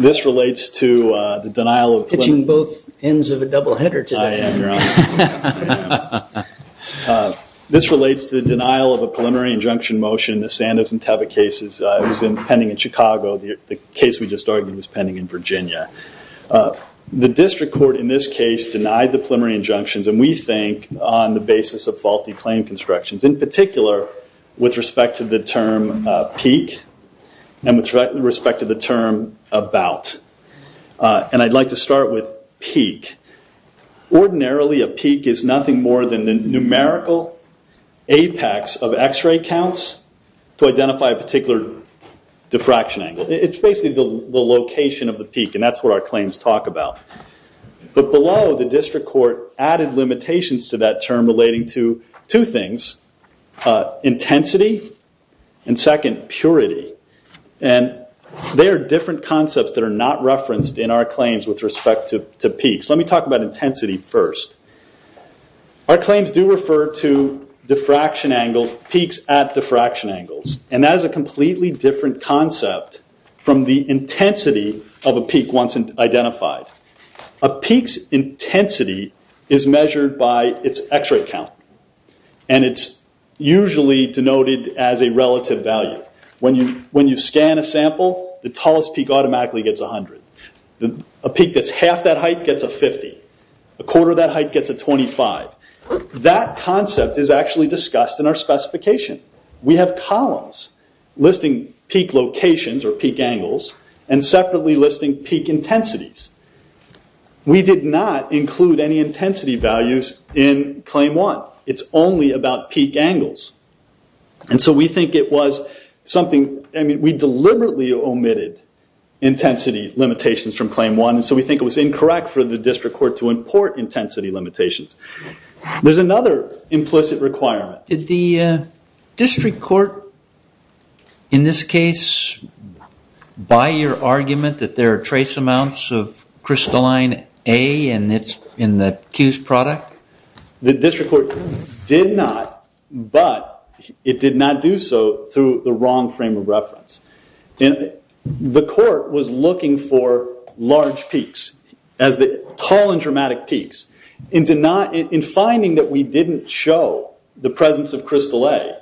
This relates to the denial of a preliminary injunction motion, the Sandoz and Teva cases, it was pending in Chicago, the case we just argued was pending in Virginia. The district court in this case denied the preliminary injunctions and we think on the basis of faulty claim constructions. In particular, with respect to the term peak and with respect to the term about. And I'd like to start with peak. Ordinarily a peak is nothing more than the numerical apex of x-ray counts to identify a particular diffraction angle. It's basically the location of the peak and that's what our claims talk about. But below the district court added limitations to that term relating to two things, intensity and second, purity. And there are different concepts that are not referenced in our claims with respect to peaks. Let me talk about intensity first. Our claims do refer to diffraction angles, peaks at diffraction angles. And that is a completely different concept from the intensity of a peak once identified. A peak's intensity is measured by its x-ray count. And it's usually denoted as a relative value. When you scan a sample, the tallest peak automatically gets 100. A peak that's half that height gets a 50. A quarter of that height gets a 25. That concept is actually discussed in our specification. We have columns listing peak locations or peak angles and separately listing peak intensities. We did not include any intensity values in Claim 1. It's only about peak angles. And so we think it was something, I mean, we deliberately omitted intensity limitations from Claim 1. And so we think it was incorrect for the district court to import intensity limitations. There's another implicit requirement. Did the district court in this case buy your argument that there are trace amounts of crystalline A and it's in the Q's product? The district court did not, but it did not do so through the wrong frame of reference. And the court was looking for large peaks as the tall and dramatic peaks. In finding that we didn't show the presence of crystal A,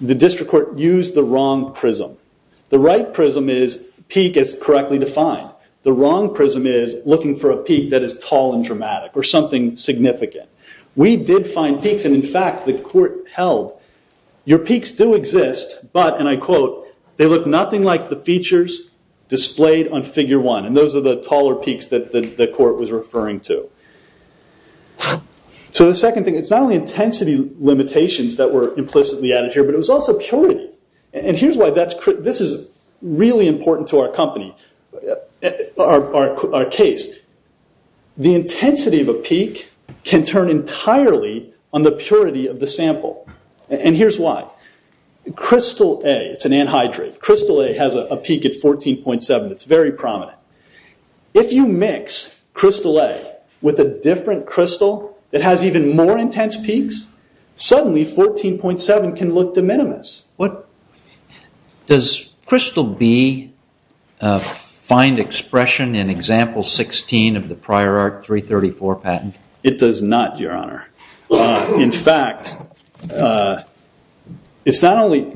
the district court used the wrong prism. The right prism is peak is correctly defined. The wrong prism is looking for a peak that is tall and dramatic or something significant. We did find peaks. And in fact, the court held your peaks do exist, but, and I quote, they look nothing like the features displayed on Figure 1. And those are the taller peaks that the court was referring to. So the second thing, it's not only intensity limitations that were implicitly added here, but it was also purity. And here's why this is really important to our company, our case. The intensity of a peak can turn entirely on the purity of the sample. And here's why. Crystal A, it's an anhydrate. Crystal A has a peak at 14.7. It's very prominent. If you mix crystal A with a different crystal that has even more intense peaks, suddenly 14.7 can look de minimis. What does crystal B find expression in example 16 of the prior art 334 patent? It does not, your honor. In fact, it's not only,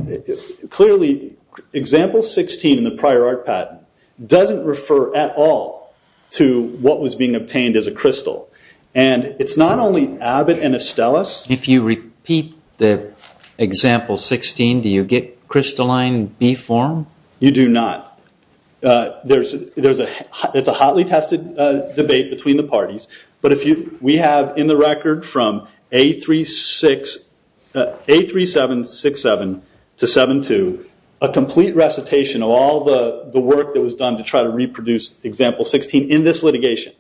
clearly example 16 in the prior art patent doesn't refer at all to what was being obtained as a crystal. And it's not only Abbott and Astellas. If you repeat the example 16, do you get crystalline B form? You do not. It's a hotly tested debate between the parties. But we have in the record from A3767 to 72, a complete recitation of all the work that was done to try to reproduce example 16 in this litigation.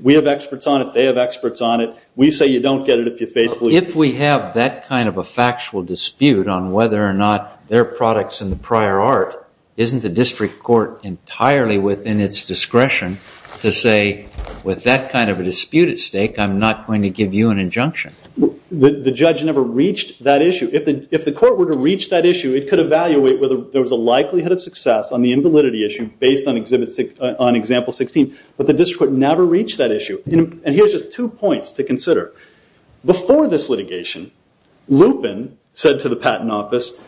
We have experts on it. They have experts on it. We say you don't get it if you faithfully- If we have that kind of a factual dispute on whether or not their products in the prior art, isn't the district court entirely within its discretion to say, with that kind of a dispute at stake, I'm not going to give you an injunction? The judge never reached that issue. If the court were to reach that issue, it could evaluate whether there was a likelihood of success on the invalidity issue based on example 16. But the district court never reached that issue. And here's just two points to consider. Before this litigation, Lupin said to the patent office,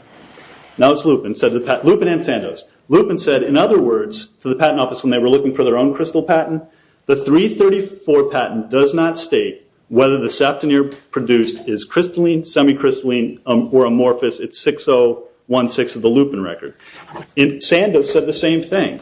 now it's Lupin, said to the patent... Lupin and Sandoz. Lupin said, in other words, to the patent office when they were looking for their own crystal patent, the 334 patent does not state whether the saptonere produced is crystalline, semi-crystalline, or amorphous at 6016 of the Lupin record. Sandoz said the same thing.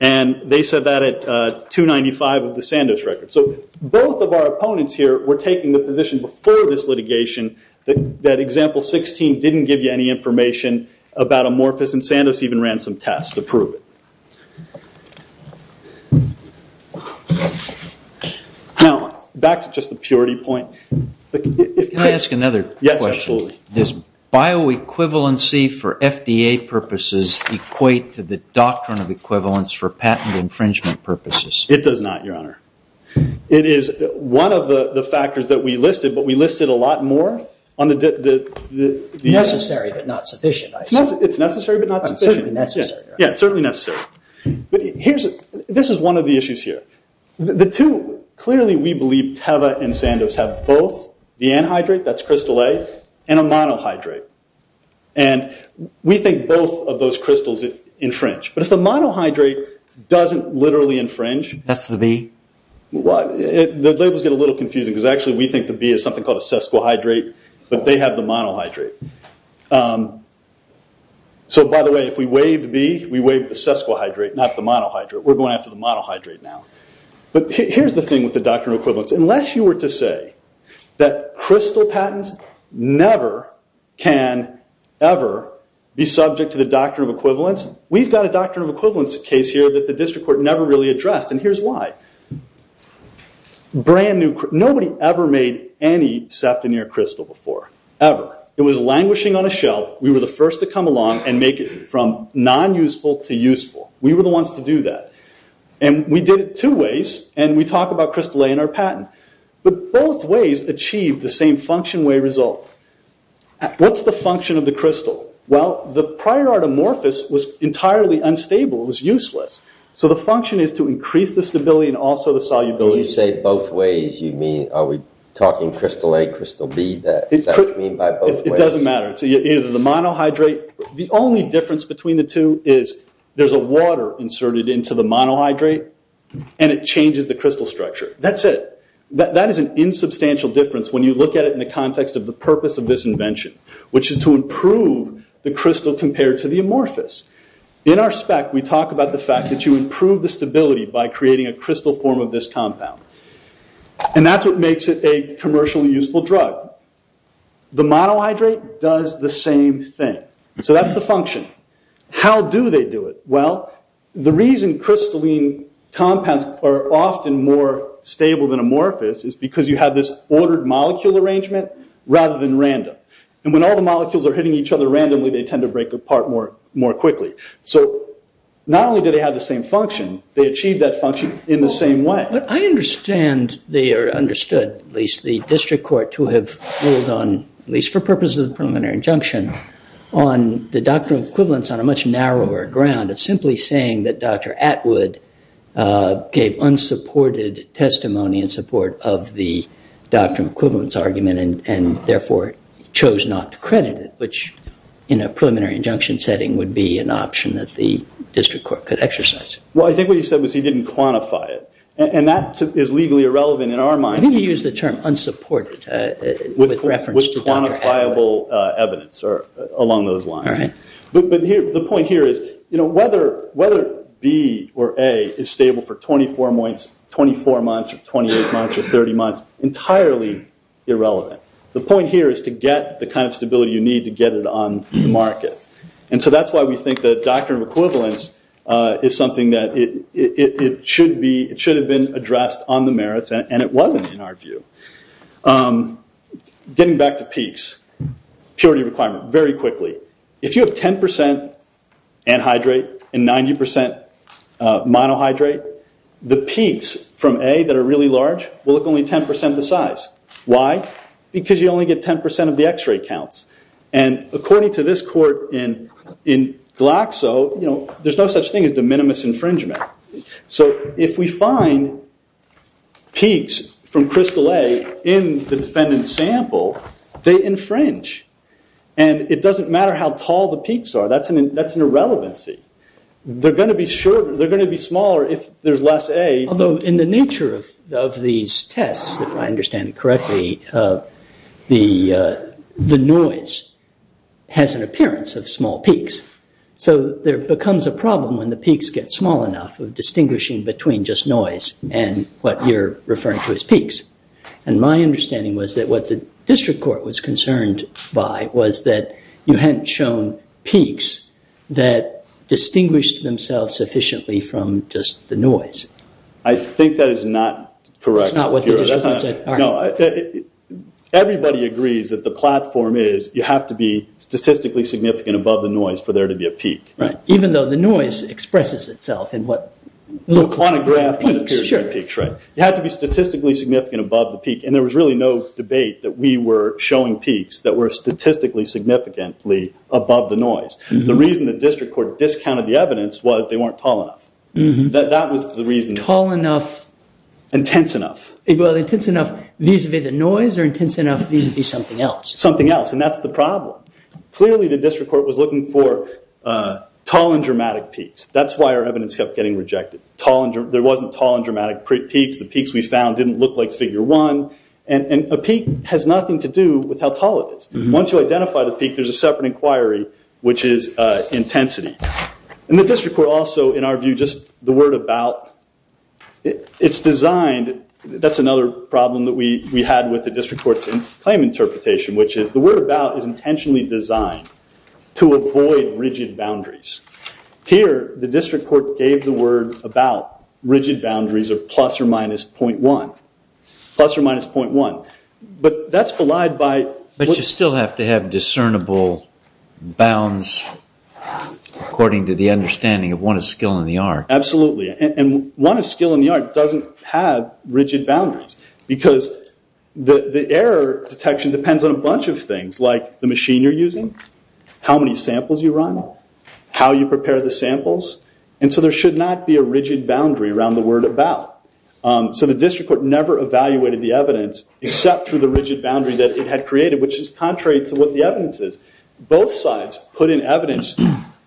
And they said that at 295 of the Sandoz record. So both of our opponents here were taking the position before this litigation that example 16 didn't give you any information about amorphous and Sandoz even ran some tests to prove it. Now, back to just the purity point. Can I ask another question? Yes, absolutely. Does bioequivalency for FDA purposes equate to the doctrine of equivalence for patent infringement purposes? It does not, Your Honor. It is one of the factors that we listed, but we listed a lot more on the... Necessary, but not sufficient. It's necessary, but not sufficient. Certainly necessary. Yeah, it's certainly necessary. This is one of the issues here. The two, clearly we believe Teva and Sandoz have both the anhydrate, that's crystal A, and a monohydrate. And we think both of those crystals infringe. But if the monohydrate doesn't literally infringe... That's the B. The labels get a little confusing because actually we think the B is something called a sesquhydrate, but they have the monohydrate. So by the way, if we waived B, we waived the sesquhydrate, not the monohydrate. We're going after the monohydrate now. But here's the thing with the doctrine of equivalence. Unless you were to say that crystal patents never can ever be subject to the doctrine of equivalence, we've got a doctrine of equivalence case here that the district court never really addressed. And here's why. Nobody ever made any sefton near crystal before, ever. It was languishing on a shelf. We were the first to come along and make it from non-useful to useful. We were the same function way result. What's the function of the crystal? Well, the prior artomorphous was entirely unstable. It was useless. So the function is to increase the stability and also the solubility. When you say both ways, are we talking crystal A, crystal B? Is that what you mean by both ways? It doesn't matter. It's either the monohydrate... The only difference between the two is there's a water inserted into the monohydrate and it changes the crystal structure. That's it. That is an insubstantial difference when you look at it in the context of the purpose of this invention, which is to improve the crystal compared to the amorphous. In our spec, we talk about the fact that you improve the stability by creating a crystal form of this compound. And that's what makes it a commercially useful drug. The monohydrate does the same thing. So that's the function. How do they do it? Well, the reason crystalline compounds are often more stable than amorphous is because you have this ordered molecule arrangement rather than random. And when all the molecules are hitting each other randomly, they tend to break apart more quickly. So not only do they have the same function, they achieve that function in the same way. But I understand, or understood, at least the district court to have ruled on, at least for purposes of preliminary injunction, on the doctrine of equivalence on a much narrower ground of simply saying that Dr. Atwood gave unsupported testimony in support of the doctrine of equivalence argument and therefore chose not to credit it, which in a preliminary injunction setting would be an option that the district court could exercise. Well, I think what you said was he didn't quantify it. And that is legally irrelevant in our mind. I think you used the term unsupported with reference to Dr. Atwood. With quantifiable evidence along those lines. But the point here is whether B or A is stable for 24 months or 28 months or 30 months, entirely irrelevant. The point here is to get the kind of stability you need to get it on the market. And so that's why we think the doctrine of equivalence is something that it should have been addressed on the merits. And it wasn't, in our view. Getting back to peaks, purity requirement, very quickly. If you have 10% anhydrate and 90% monohydrate, the peaks from A that are really large will look only 10% the size. Why? Because you only get 10% of the x-ray counts. And according to this court in Glaxo, there's no such thing as de minimis infringement. So if we find peaks from crystal A in the defendant's sample, they infringe. And it doesn't matter how tall the peaks are. That's an irrelevancy. They're going to be smaller if there's less A. Although in the nature of these the peaks get small enough of distinguishing between just noise and what you're referring to as peaks. And my understanding was that what the district court was concerned by was that you hadn't shown peaks that distinguished themselves sufficiently from just the noise. I think that is not correct. Everybody agrees that the platform is you have to be statistically significant above the noise for there to be a peak. Even though the noise expresses itself in what looks like peaks. You have to be statistically significant above the peak. And there was really no debate that we were showing peaks that were statistically significantly above the noise. The reason the district court discounted the evidence was they weren't tall enough. That was the reason. Tall enough. Intense enough. Intense enough vis-a-vis the noise or intense enough vis-a-vis something else? Something else. And that's the problem. Clearly the district court was looking for tall and dramatic peaks. That's why our evidence kept getting rejected. There wasn't tall and dramatic peaks. The peaks we found didn't look like figure one. And a peak has nothing to do with how tall it is. Once you identify the peak there's a separate inquiry which is intensity. And the district court also in our view just the word about it's designed. That's another problem that we had with the district court's claim interpretation which is the word about is intentionally designed to avoid rigid boundaries. Here the district court gave the word about rigid boundaries of plus or minus 0.1. Plus or minus 0.1. But that's belied by... But you still have to have discernible bounds according to the understanding of one of skill and the art. Absolutely. And one of skill and the art doesn't have rigid boundaries because the error detection depends on a bunch of things like the machine you're using, how many samples you run, how you prepare the samples. And so there should not be a rigid boundary around the word about. So the district court never evaluated the evidence except through the rigid boundary that it had created which is contrary to what the evidence is. Both sides put in evidence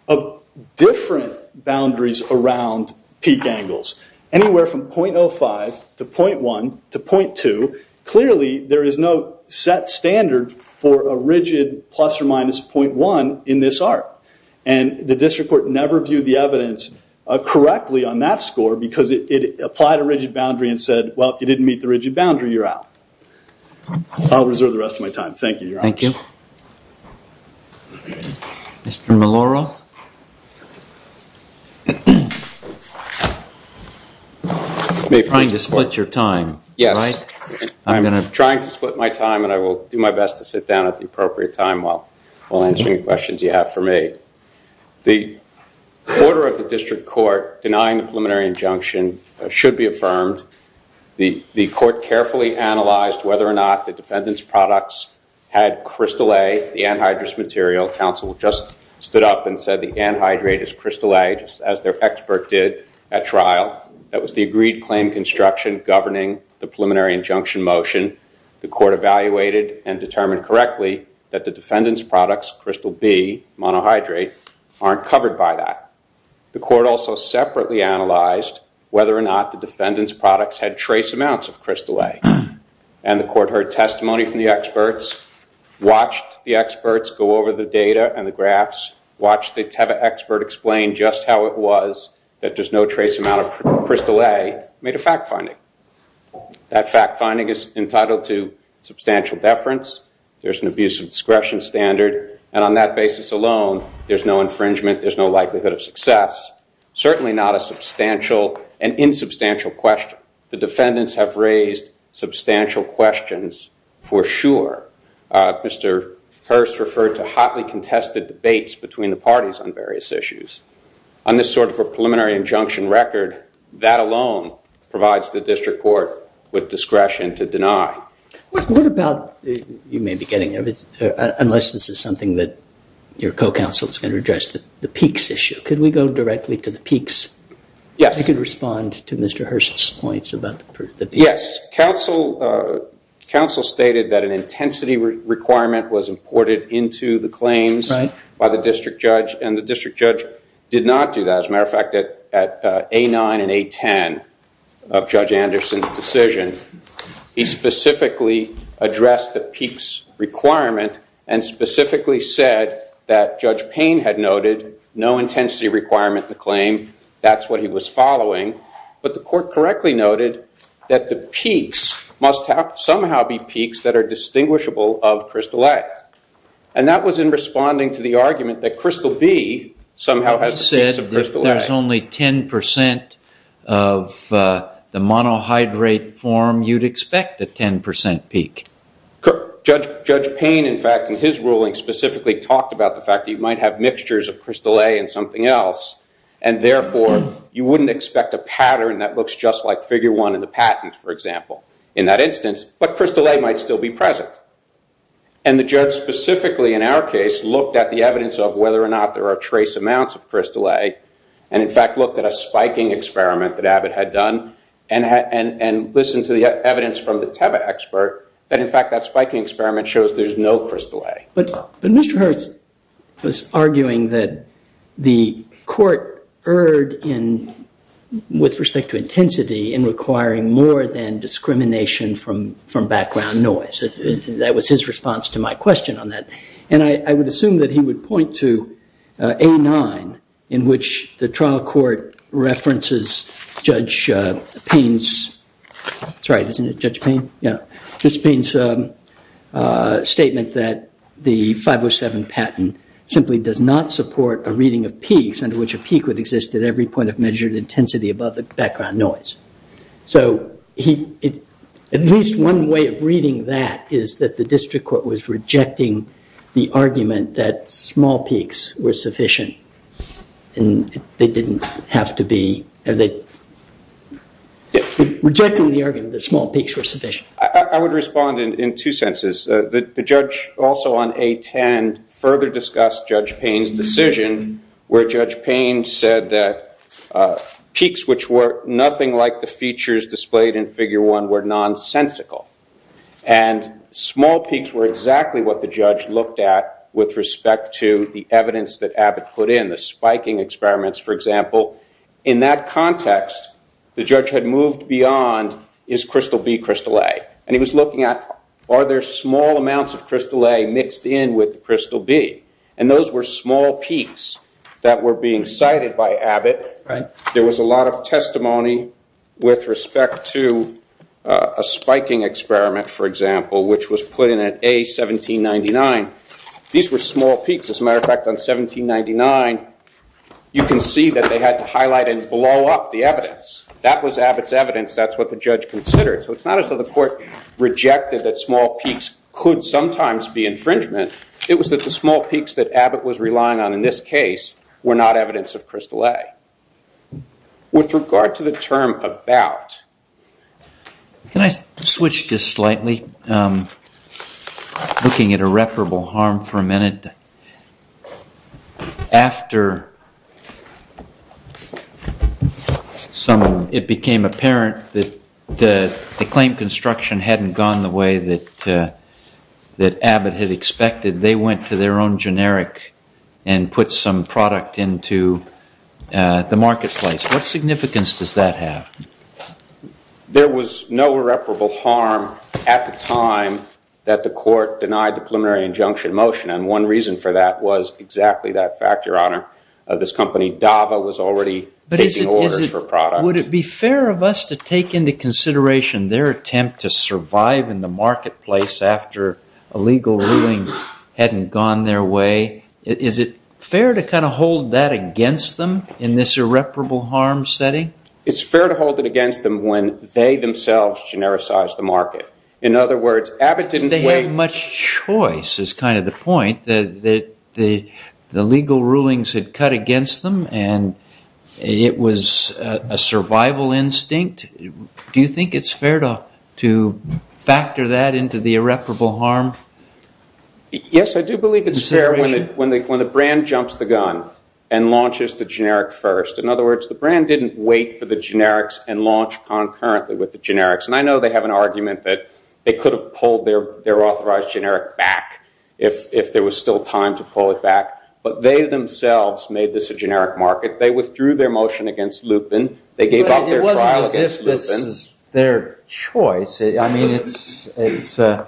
of different boundaries around peak angles. Anywhere from 0.05 to 0.1 to 0.2 clearly there is no set standard for a rigid plus or minus 0.1 in this art. And the district court never viewed the evidence correctly on that score because it applied a rigid boundary and said well if you didn't meet the rigid boundary you're out. I'll reserve the rest of my time. Thank you. Thank you. Thank you. Mr. Maloro? Trying to split your time. Yes. I'm trying to split my time and I will do my best to sit down at the appropriate time while answering questions you have for me. The order of the district court denying the preliminary injunction should be affirmed. The court carefully analyzed whether or not the defendant's products had crystal A, the anhydrous material. Counsel just stood up and said the anhydrate is crystal A just as their expert did at trial. That was the agreed claim construction governing the preliminary injunction motion. The court evaluated and determined correctly that the defendant's products, crystal B, monohydrate, aren't covered by that. The court also separately analyzed whether or not the defendant's products had trace amounts of crystal A and the court heard testimony from the experts, watched the experts go over the data and the graphs, watched the expert explain just how it was that there's no trace amount of crystal A, made a fact finding. That fact finding is entitled to substantial deference, there's an abuse of discretion standard, and on that basis alone there's no infringement, there's no likelihood of success, certainly not a substantial and insubstantial question. The defendants have raised substantial questions for sure. Mr. Hearst referred to hotly contested debates between the parties on various issues. On this sort of a preliminary injunction record, that alone provides the district court with discretion to deny. What about, you may be getting it, unless this is counsel's going to address the Peeks issue. Could we go directly to the Peeks? Yes. I could respond to Mr. Hearst's points about the Peeks. Yes. Counsel stated that an intensity requirement was imported into the claims by the district judge and the district judge did not do that. As a matter of fact, at A9 and A10 of Judge Anderson's decision, he specifically addressed the Peeks requirement and specifically said that Judge Payne had noted no intensity requirement in the claim, that's what he was following, but the court correctly noted that the Peeks must somehow be Peaks that are distinguishable of Crystal A. And that was in responding to the argument that Crystal B somehow has the Peaks of Crystal A. You said that there's only 10% of the monohydrate form you'd expect a 10% Peak. Judge Payne, in fact, in his ruling specifically talked about the fact that you might have mixtures of Crystal A and something else, and therefore you wouldn't expect a pattern that looks just like Figure 1 in the patent, for example, in that instance, but Crystal A might still be present. And the judge specifically, in our case, looked at the evidence of whether or not there are trace amounts of Crystal A, and in fact looked at a spiking experiment that Abbott had done and listened to the evidence from the Teva expert that, in fact, that spiking experiment shows there's no Crystal A. But Mr. Hurst was arguing that the court erred with respect to intensity in requiring more than discrimination from background noise. That was his response to my question on that. And I would assume that he would point to A9 in which the Judge Payne's statement that the 507 patent simply does not support a reading of peaks under which a peak would exist at every point of measured intensity above the background noise. So at least one way of reading that is that the district court was rejecting the argument that small peaks were sufficient. And they didn't have to be, rejecting the argument that small peaks were sufficient. I would respond in two senses. The judge also on A10 further discussed Judge Payne's decision where Judge Payne said that peaks which were nothing like the features displayed in Figure 1 were nonsensical. And small peaks were exactly what the judge looked at with respect to the evidence that Abbott put in, the spiking experiments, for example. In that context, the judge had moved beyond is Crystal B, Crystal A? And he was looking at are there small amounts of Crystal A mixed in with Crystal B? And those were small peaks that were being cited by Abbott. There was a lot of for example, which was put in at A1799. These were small peaks. As a matter of fact, on 1799, you can see that they had to highlight and blow up the evidence. That was Abbott's evidence. That's what the judge considered. So it's not as though the court rejected that small peaks could sometimes be infringement. It was that the small peaks that Abbott was relying on in this case were not evidence of Crystal A. With regard to the term about, can I switch just slightly, looking at irreparable harm for a minute? After someone, it became apparent that the claim construction hadn't gone the way that Abbott had expected. They went to their own generic and put some product into the marketplace. What significance does that have? There was no irreparable harm at the time that the court denied the preliminary injunction motion. And one reason for that was exactly that fact, Your Honor. This company, Dava, was already taking orders for products. But would it be fair of us to take into consideration their attempt to survive in the marketplace after a legal ruling hadn't gone their way? Is it fair to hold that against them in this irreparable harm setting? It's fair to hold it against them when they themselves genericized the market. In other words, Abbott didn't wait- They had much choice, is the point. The legal rulings had cut against them, and it was a survival instinct. Do you think it's fair to factor that into the irreparable harm? Yes, I do believe it's fair when the brand jumps the gun and launches the generic first. In other words, the brand didn't wait for the generics and launch concurrently with the generics. And I know they have an argument that they could have pulled their authorized generic back if there was still to pull it back. But they themselves made this a generic market. They withdrew their motion against Lupin. They gave up their trial against Lupin. But it wasn't as if this is their choice. I mean,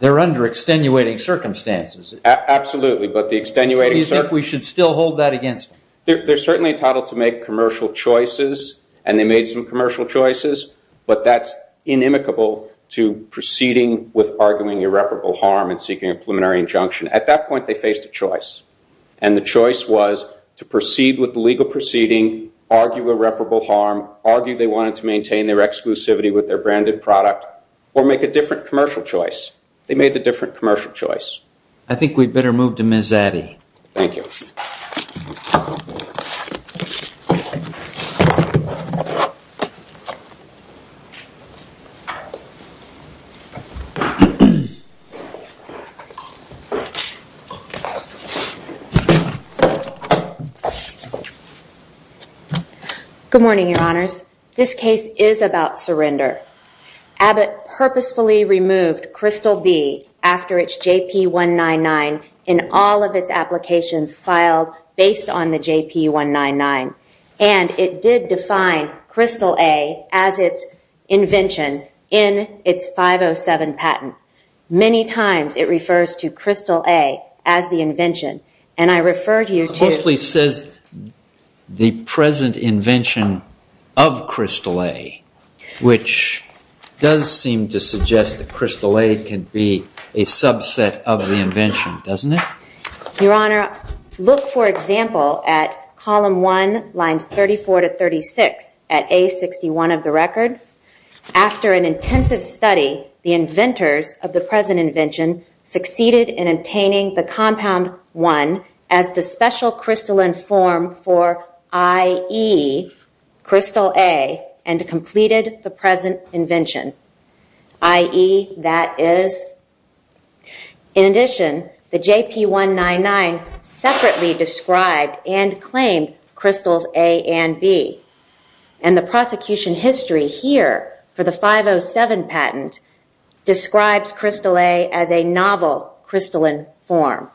they're under extenuating circumstances. Absolutely, but the extenuating- So you think we should still hold that against them? They're certainly entitled to make commercial choices, and they made some commercial choices. But that's inimicable to proceeding with arguing irreparable harm and seeking a preliminary injunction. At that point, they faced a choice. And the choice was to proceed with the legal proceeding, argue irreparable harm, argue they wanted to maintain their exclusivity with their branded product, or make a different commercial choice. They made the different commercial choice. I think we'd better move to Ms. Addy. Thank you. Good morning, Your Honors. This case is about surrender. Abbott purposefully removed Crystal B after its JP-199 in all of its applications filed based on the JP-199. And it did define Crystal A as its invention in its 507 patent. Many times it refers to Crystal A as the invention. And I refer to you to- It mostly says the present invention of Crystal A, which does seem to suggest that Crystal A can be a subset of the invention, doesn't it? Your Honor, look for example at column one, lines 34 to 36 at A61 of the record. After an intensive study, the inventors of the present invention succeeded in obtaining the compound one as the special crystalline form for IE, Crystal A, and completed the present invention. IE, that is. In addition, the JP-199 separately described and claimed Crystals A and B. And the prosecution history here for the 507 patent describes Crystal A as a novel crystalline form.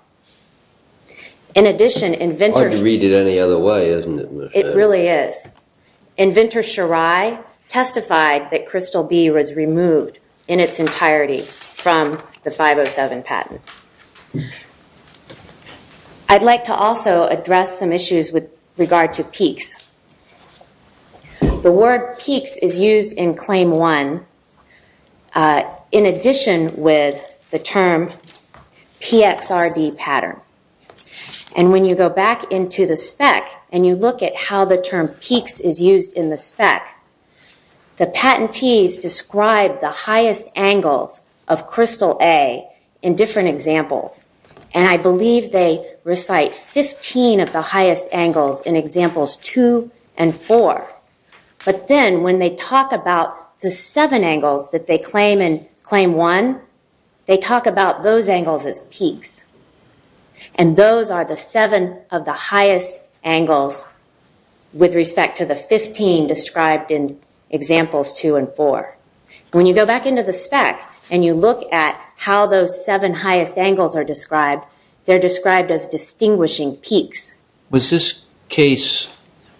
In addition, inventors- Hard to read it any other way, isn't it, Ms. Addy? It really is. Inventor Shirai testified that Crystal B was removed in its entirety from the 507 patent. I'd like to also address some issues with regard to peaks. The word peaks is used in claim one in addition with the term PXRD pattern. And when you go back into the spec and you look at how the term peaks is used in the spec, the patentees describe the highest angles of Crystal A in different examples. And I believe they recite 15 of the highest angles in examples two and four. But then when they talk about the seven angles that they claim in claim one, they talk about those angles as peaks. And those are the seven of the highest angles with respect to the 15 described in examples two and four. When you go back into the spec and you look at how those seven highest angles are described, they're described as distinguishing peaks. Was this case,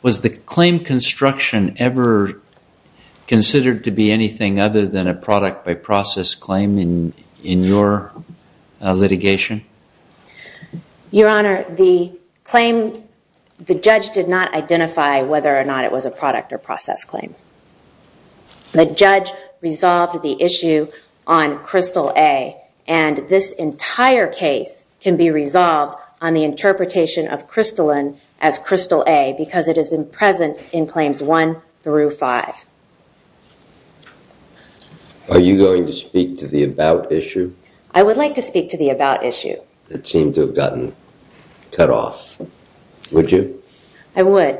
was the claim construction ever considered to be anything other than a product by process claim in your litigation? Your Honor, the claim, the judge did not identify whether or not it was a product or process claim. The judge resolved the issue on Crystal A and this entire case can be resolved on the interpretation of Crystalline as Crystal A because it is in present in claims one through five. Are you going to speak to the about issue? I would like to speak to the about issue. It seemed to have gotten cut off. Would you? I would.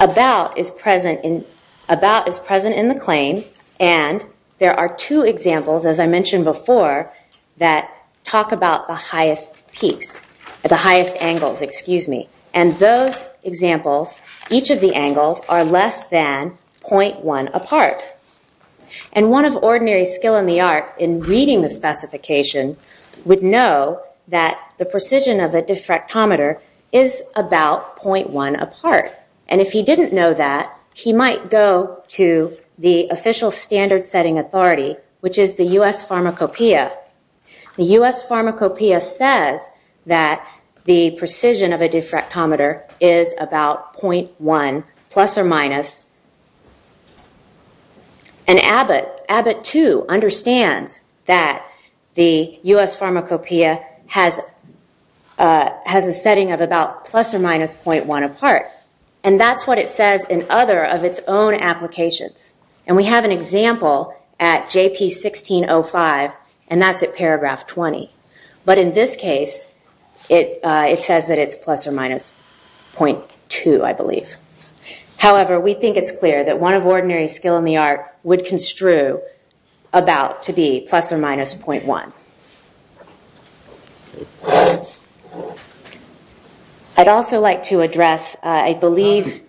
About is present in the claim and there are two examples, as I mentioned before, that talk about the highest peaks, the highest angles, excuse me. And those examples, each of the angles are less than 0.1 apart. And one of ordinary skill in the art in reading the specification would know that the precision of a diffractometer is about 0.1 apart. And if he didn't know that, he might go to the official standard setting authority, which is the U.S. Pharmacopeia. The U.S. Pharmacopeia says that the precision of a diffractometer is about 0.1 plus or minus. And Abbott, too, understands that the U.S. Pharmacopeia has a setting of about plus or minus 0.1 apart. And that's what it says in other of its own applications. And we have an example at JP1605 and that's at paragraph 20. But in this case, it says that it's plus or minus 0.2, I believe. However, we think it's clear that one of ordinary skill in the art would construe about to be plus or minus 0.1. I'd also like to address, I believe...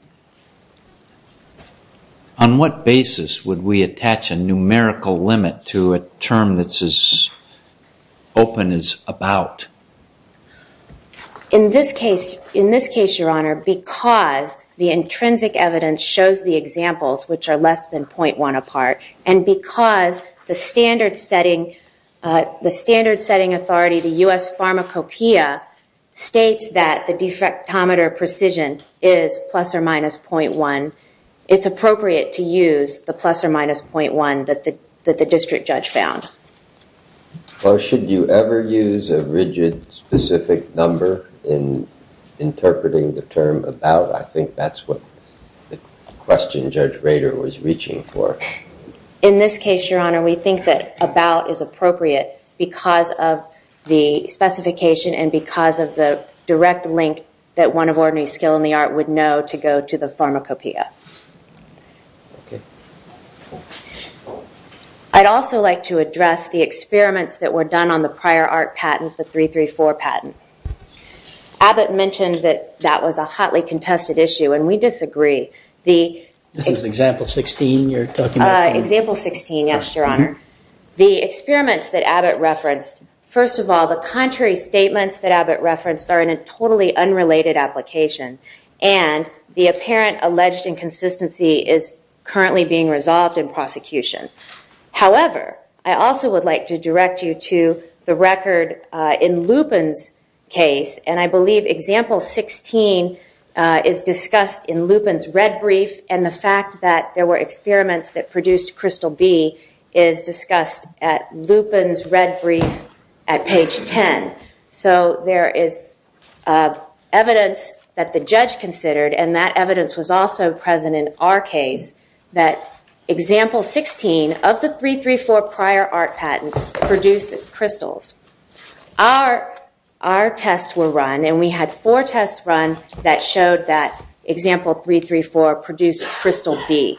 On what basis would we attach a numerical limit to a term that's as open as about? In this case, Your Honor, because the intrinsic evidence shows the examples which are less than 0.1 apart and because the standard setting authority, the U.S. Pharmacopeia, states that diffractometer precision is plus or minus 0.1, it's appropriate to use the plus or minus 0.1 that the district judge found. Or should you ever use a rigid, specific number in interpreting the term about? I think that's what the question Judge Rader was reaching for. In this case, Your Honor, we think that about is appropriate because of the specification and because of the direct link that one of ordinary skill in the art would know to go to the Pharmacopeia. I'd also like to address the experiments that were done on the prior art patent, the 334 patent. Abbott mentioned that that was a hotly contested issue and we disagree. This is example 16 you're talking about? Example 16, yes, Your Honor. The experiments that Abbott referenced, first of all, the contrary statements that Abbott referenced are in a totally unrelated application and the apparent alleged inconsistency is currently being resolved in prosecution. However, I also would like to direct you to the record in Lupin's case and I believe example 16 is discussed in Lupin's red brief and the fact that there were experiments that were done on the prior art patent is in the record in Lupin's red brief at page 10. So there is evidence that the judge considered and that evidence was also present in our case that example 16 of the 334 prior art patent produced crystals. Our tests were run and we had four tests run that example 334 produced crystal B.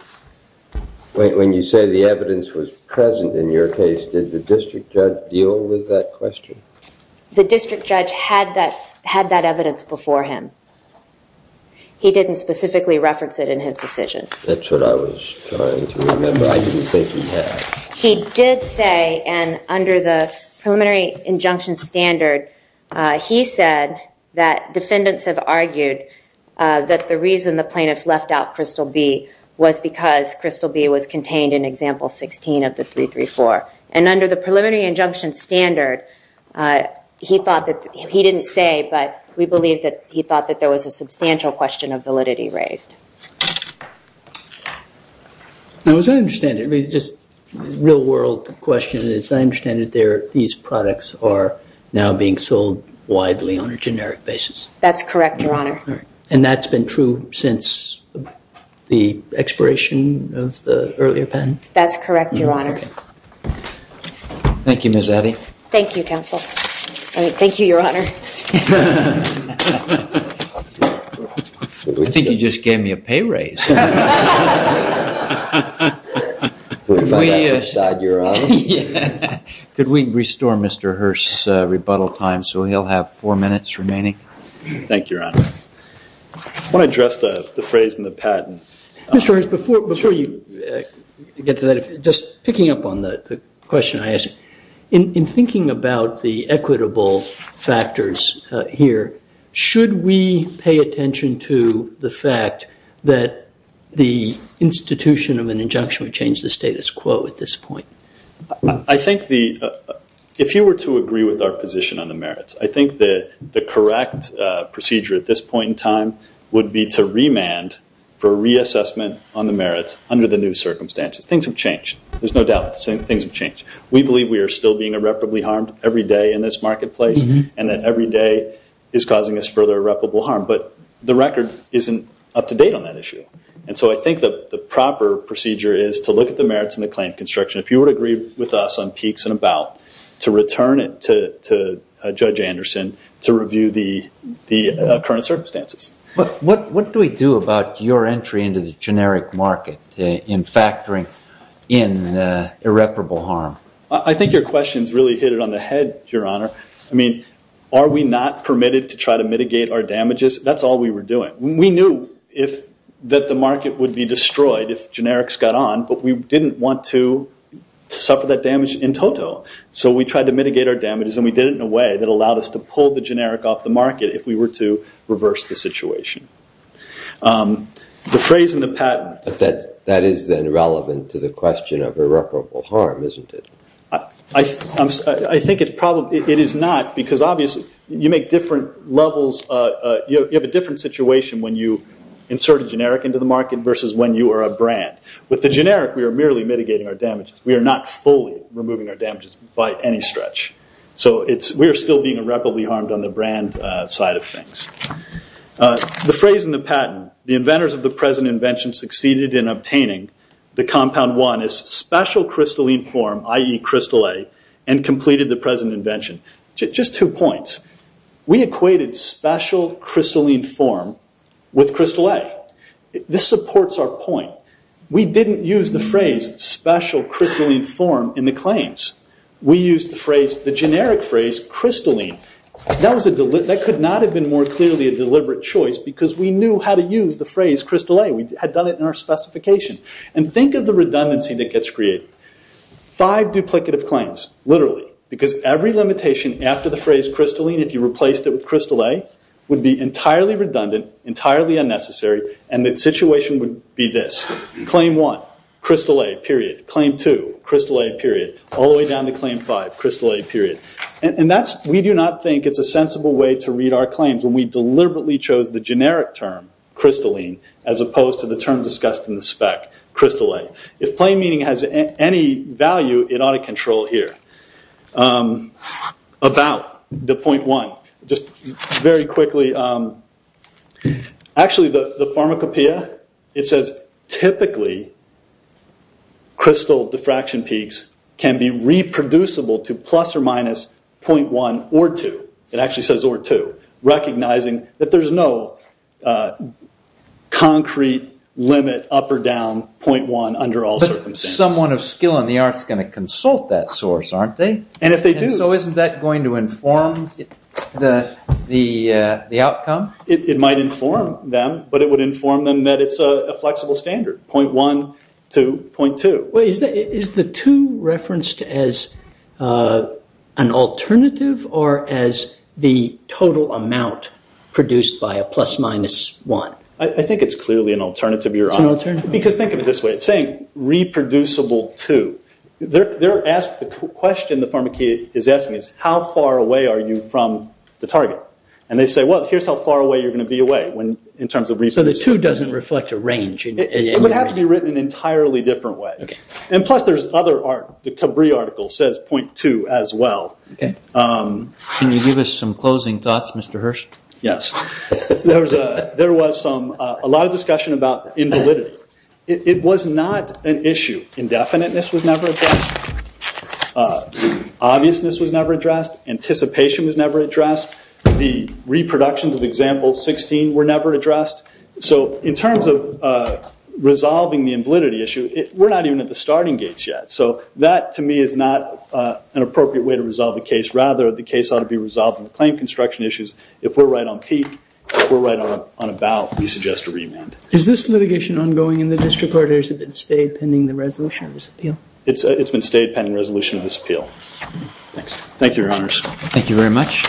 When you say the evidence was present in your case, did the district judge deal with that question? The district judge had that evidence before him. He didn't specifically reference it in his decision. That's what I was trying to remember. I didn't think he had. He did say and under the preliminary injunction standard, he said that defendants have argued that the reason the plaintiffs left out crystal B was because crystal B was contained in example 16 of the 334. And under the preliminary injunction standard, he thought that he didn't say, but we believe that he thought that there was a substantial question of validity raised. Now as I understand it, just real world question, I understand that these products are now being sold widely on a generic basis. That's correct, your honor. And that's been true since the expiration of the earlier patent? That's correct, your honor. Thank you, Ms. Addy. Thank you, counsel. Thank you, your honor. I think you just gave me a pay raise. Could we restore Mr. Hearst's rebuttal time so he'll have four minutes remaining? Thank you, your honor. I want to address the phrase in the patent. Mr. Hearst, before you get to that, just picking up on the question I asked, in thinking about the equitable factors here, should we pay attention to the fact that there's a lot of the institution of an injunction would change the status quo at this point? I think if you were to agree with our position on the merits, I think that the correct procedure at this point in time would be to remand for reassessment on the merits under the new circumstances. Things have changed. There's no doubt that things have changed. We believe we are still being irreparably harmed every day in this marketplace and that every day is causing us further irreparable harm, but the record isn't up to date on that issue. I think the proper procedure is to look at the merits and the claim construction. If you would agree with us on peaks and about, to return it to Judge Anderson to review the current circumstances. What do we do about your entry into the generic market in factoring in irreparable harm? I think your question's really hit it on the head, your honor. Are we not permitted to try mitigate our damages? That's all we were doing. We knew that the market would be destroyed if generics got on, but we didn't want to suffer that damage in total. We tried to mitigate our damages and we did it in a way that allowed us to pull the generic off the market if we were to reverse the situation. The phrase in the patent- That is then relevant to the question of irreparable harm, isn't it? I think it is not because obviously you make different levels. You have a different situation when you insert a generic into the market versus when you are a brand. With the generic, we are merely mitigating our damages. We are not fully removing our damages by any stretch. We are still being irreparably harmed on the brand side of things. The phrase in the patent, the inventors of the present invention succeeded in obtaining the compound one as special crystalline form, i.e. crystal A, and completed the present invention. Just two points. We equated special crystalline form with crystal A. This supports our point. We didn't use the phrase special crystalline form in the claims. We used the generic phrase crystalline. That could not have been more clearly a deliberate choice because we knew how to use the specification. Think of the redundancy that gets created. Five duplicative claims, literally, because every limitation after the phrase crystalline, if you replaced it with crystal A, would be entirely redundant, entirely unnecessary, and the situation would be this. Claim one, crystal A, period. Claim two, crystal A, period. All the way down to claim five, crystal A, period. We do not think it's a sensible way to read our claims when we deliberately chose the generic term, crystalline, as opposed to the term discussed in the spec, crystal A. If plain meaning has any value, it ought to control it here. About the point one, just very quickly. Actually, the pharmacopeia, it says typically crystal diffraction peaks can be reproducible to plus or minus point one or two. It actually says or two, recognizing that there's no concrete limit up or down point one under all circumstances. Someone of skill in the arts is going to consult that source, aren't they? If they do. Isn't that going to inform the outcome? It might inform them, but it would inform them that it's a flexible standard, point one to point two. Is the two referenced as an alternative or as the total amount produced by a plus minus one? I think it's clearly an alternative. It's an alternative. Because think of it this way. It's saying reproducible two. The question the pharmacopeia is asking is how far away are you from the target? They say, well, here's how far away you're going to be away in terms of reproducibility. The two doesn't reflect a range. It would have to be written in an entirely different way. Plus, there's other art. The Cabri article says point two as well. Can you give us some closing thoughts, Mr. Hirsch? Yes. There was a lot of discussion about invalidity. It was not an issue. Indefiniteness was never addressed. Obviousness was never addressed. Anticipation was never addressed. The reproductions of example 16 were never addressed. So in terms of resolving the invalidity issue, we're not even at the starting gates yet. So that, to me, is not an appropriate way to resolve the case. Rather, the case ought to be resolved on the claim construction issues. If we're right on peak, if we're right on a bow, we suggest a remand. Is this litigation ongoing in the district court? Or has it been stayed pending the resolution of this appeal? It's been stayed pending resolution of this appeal. Thanks. Thank you, your honors. Thank you very much. Thank you.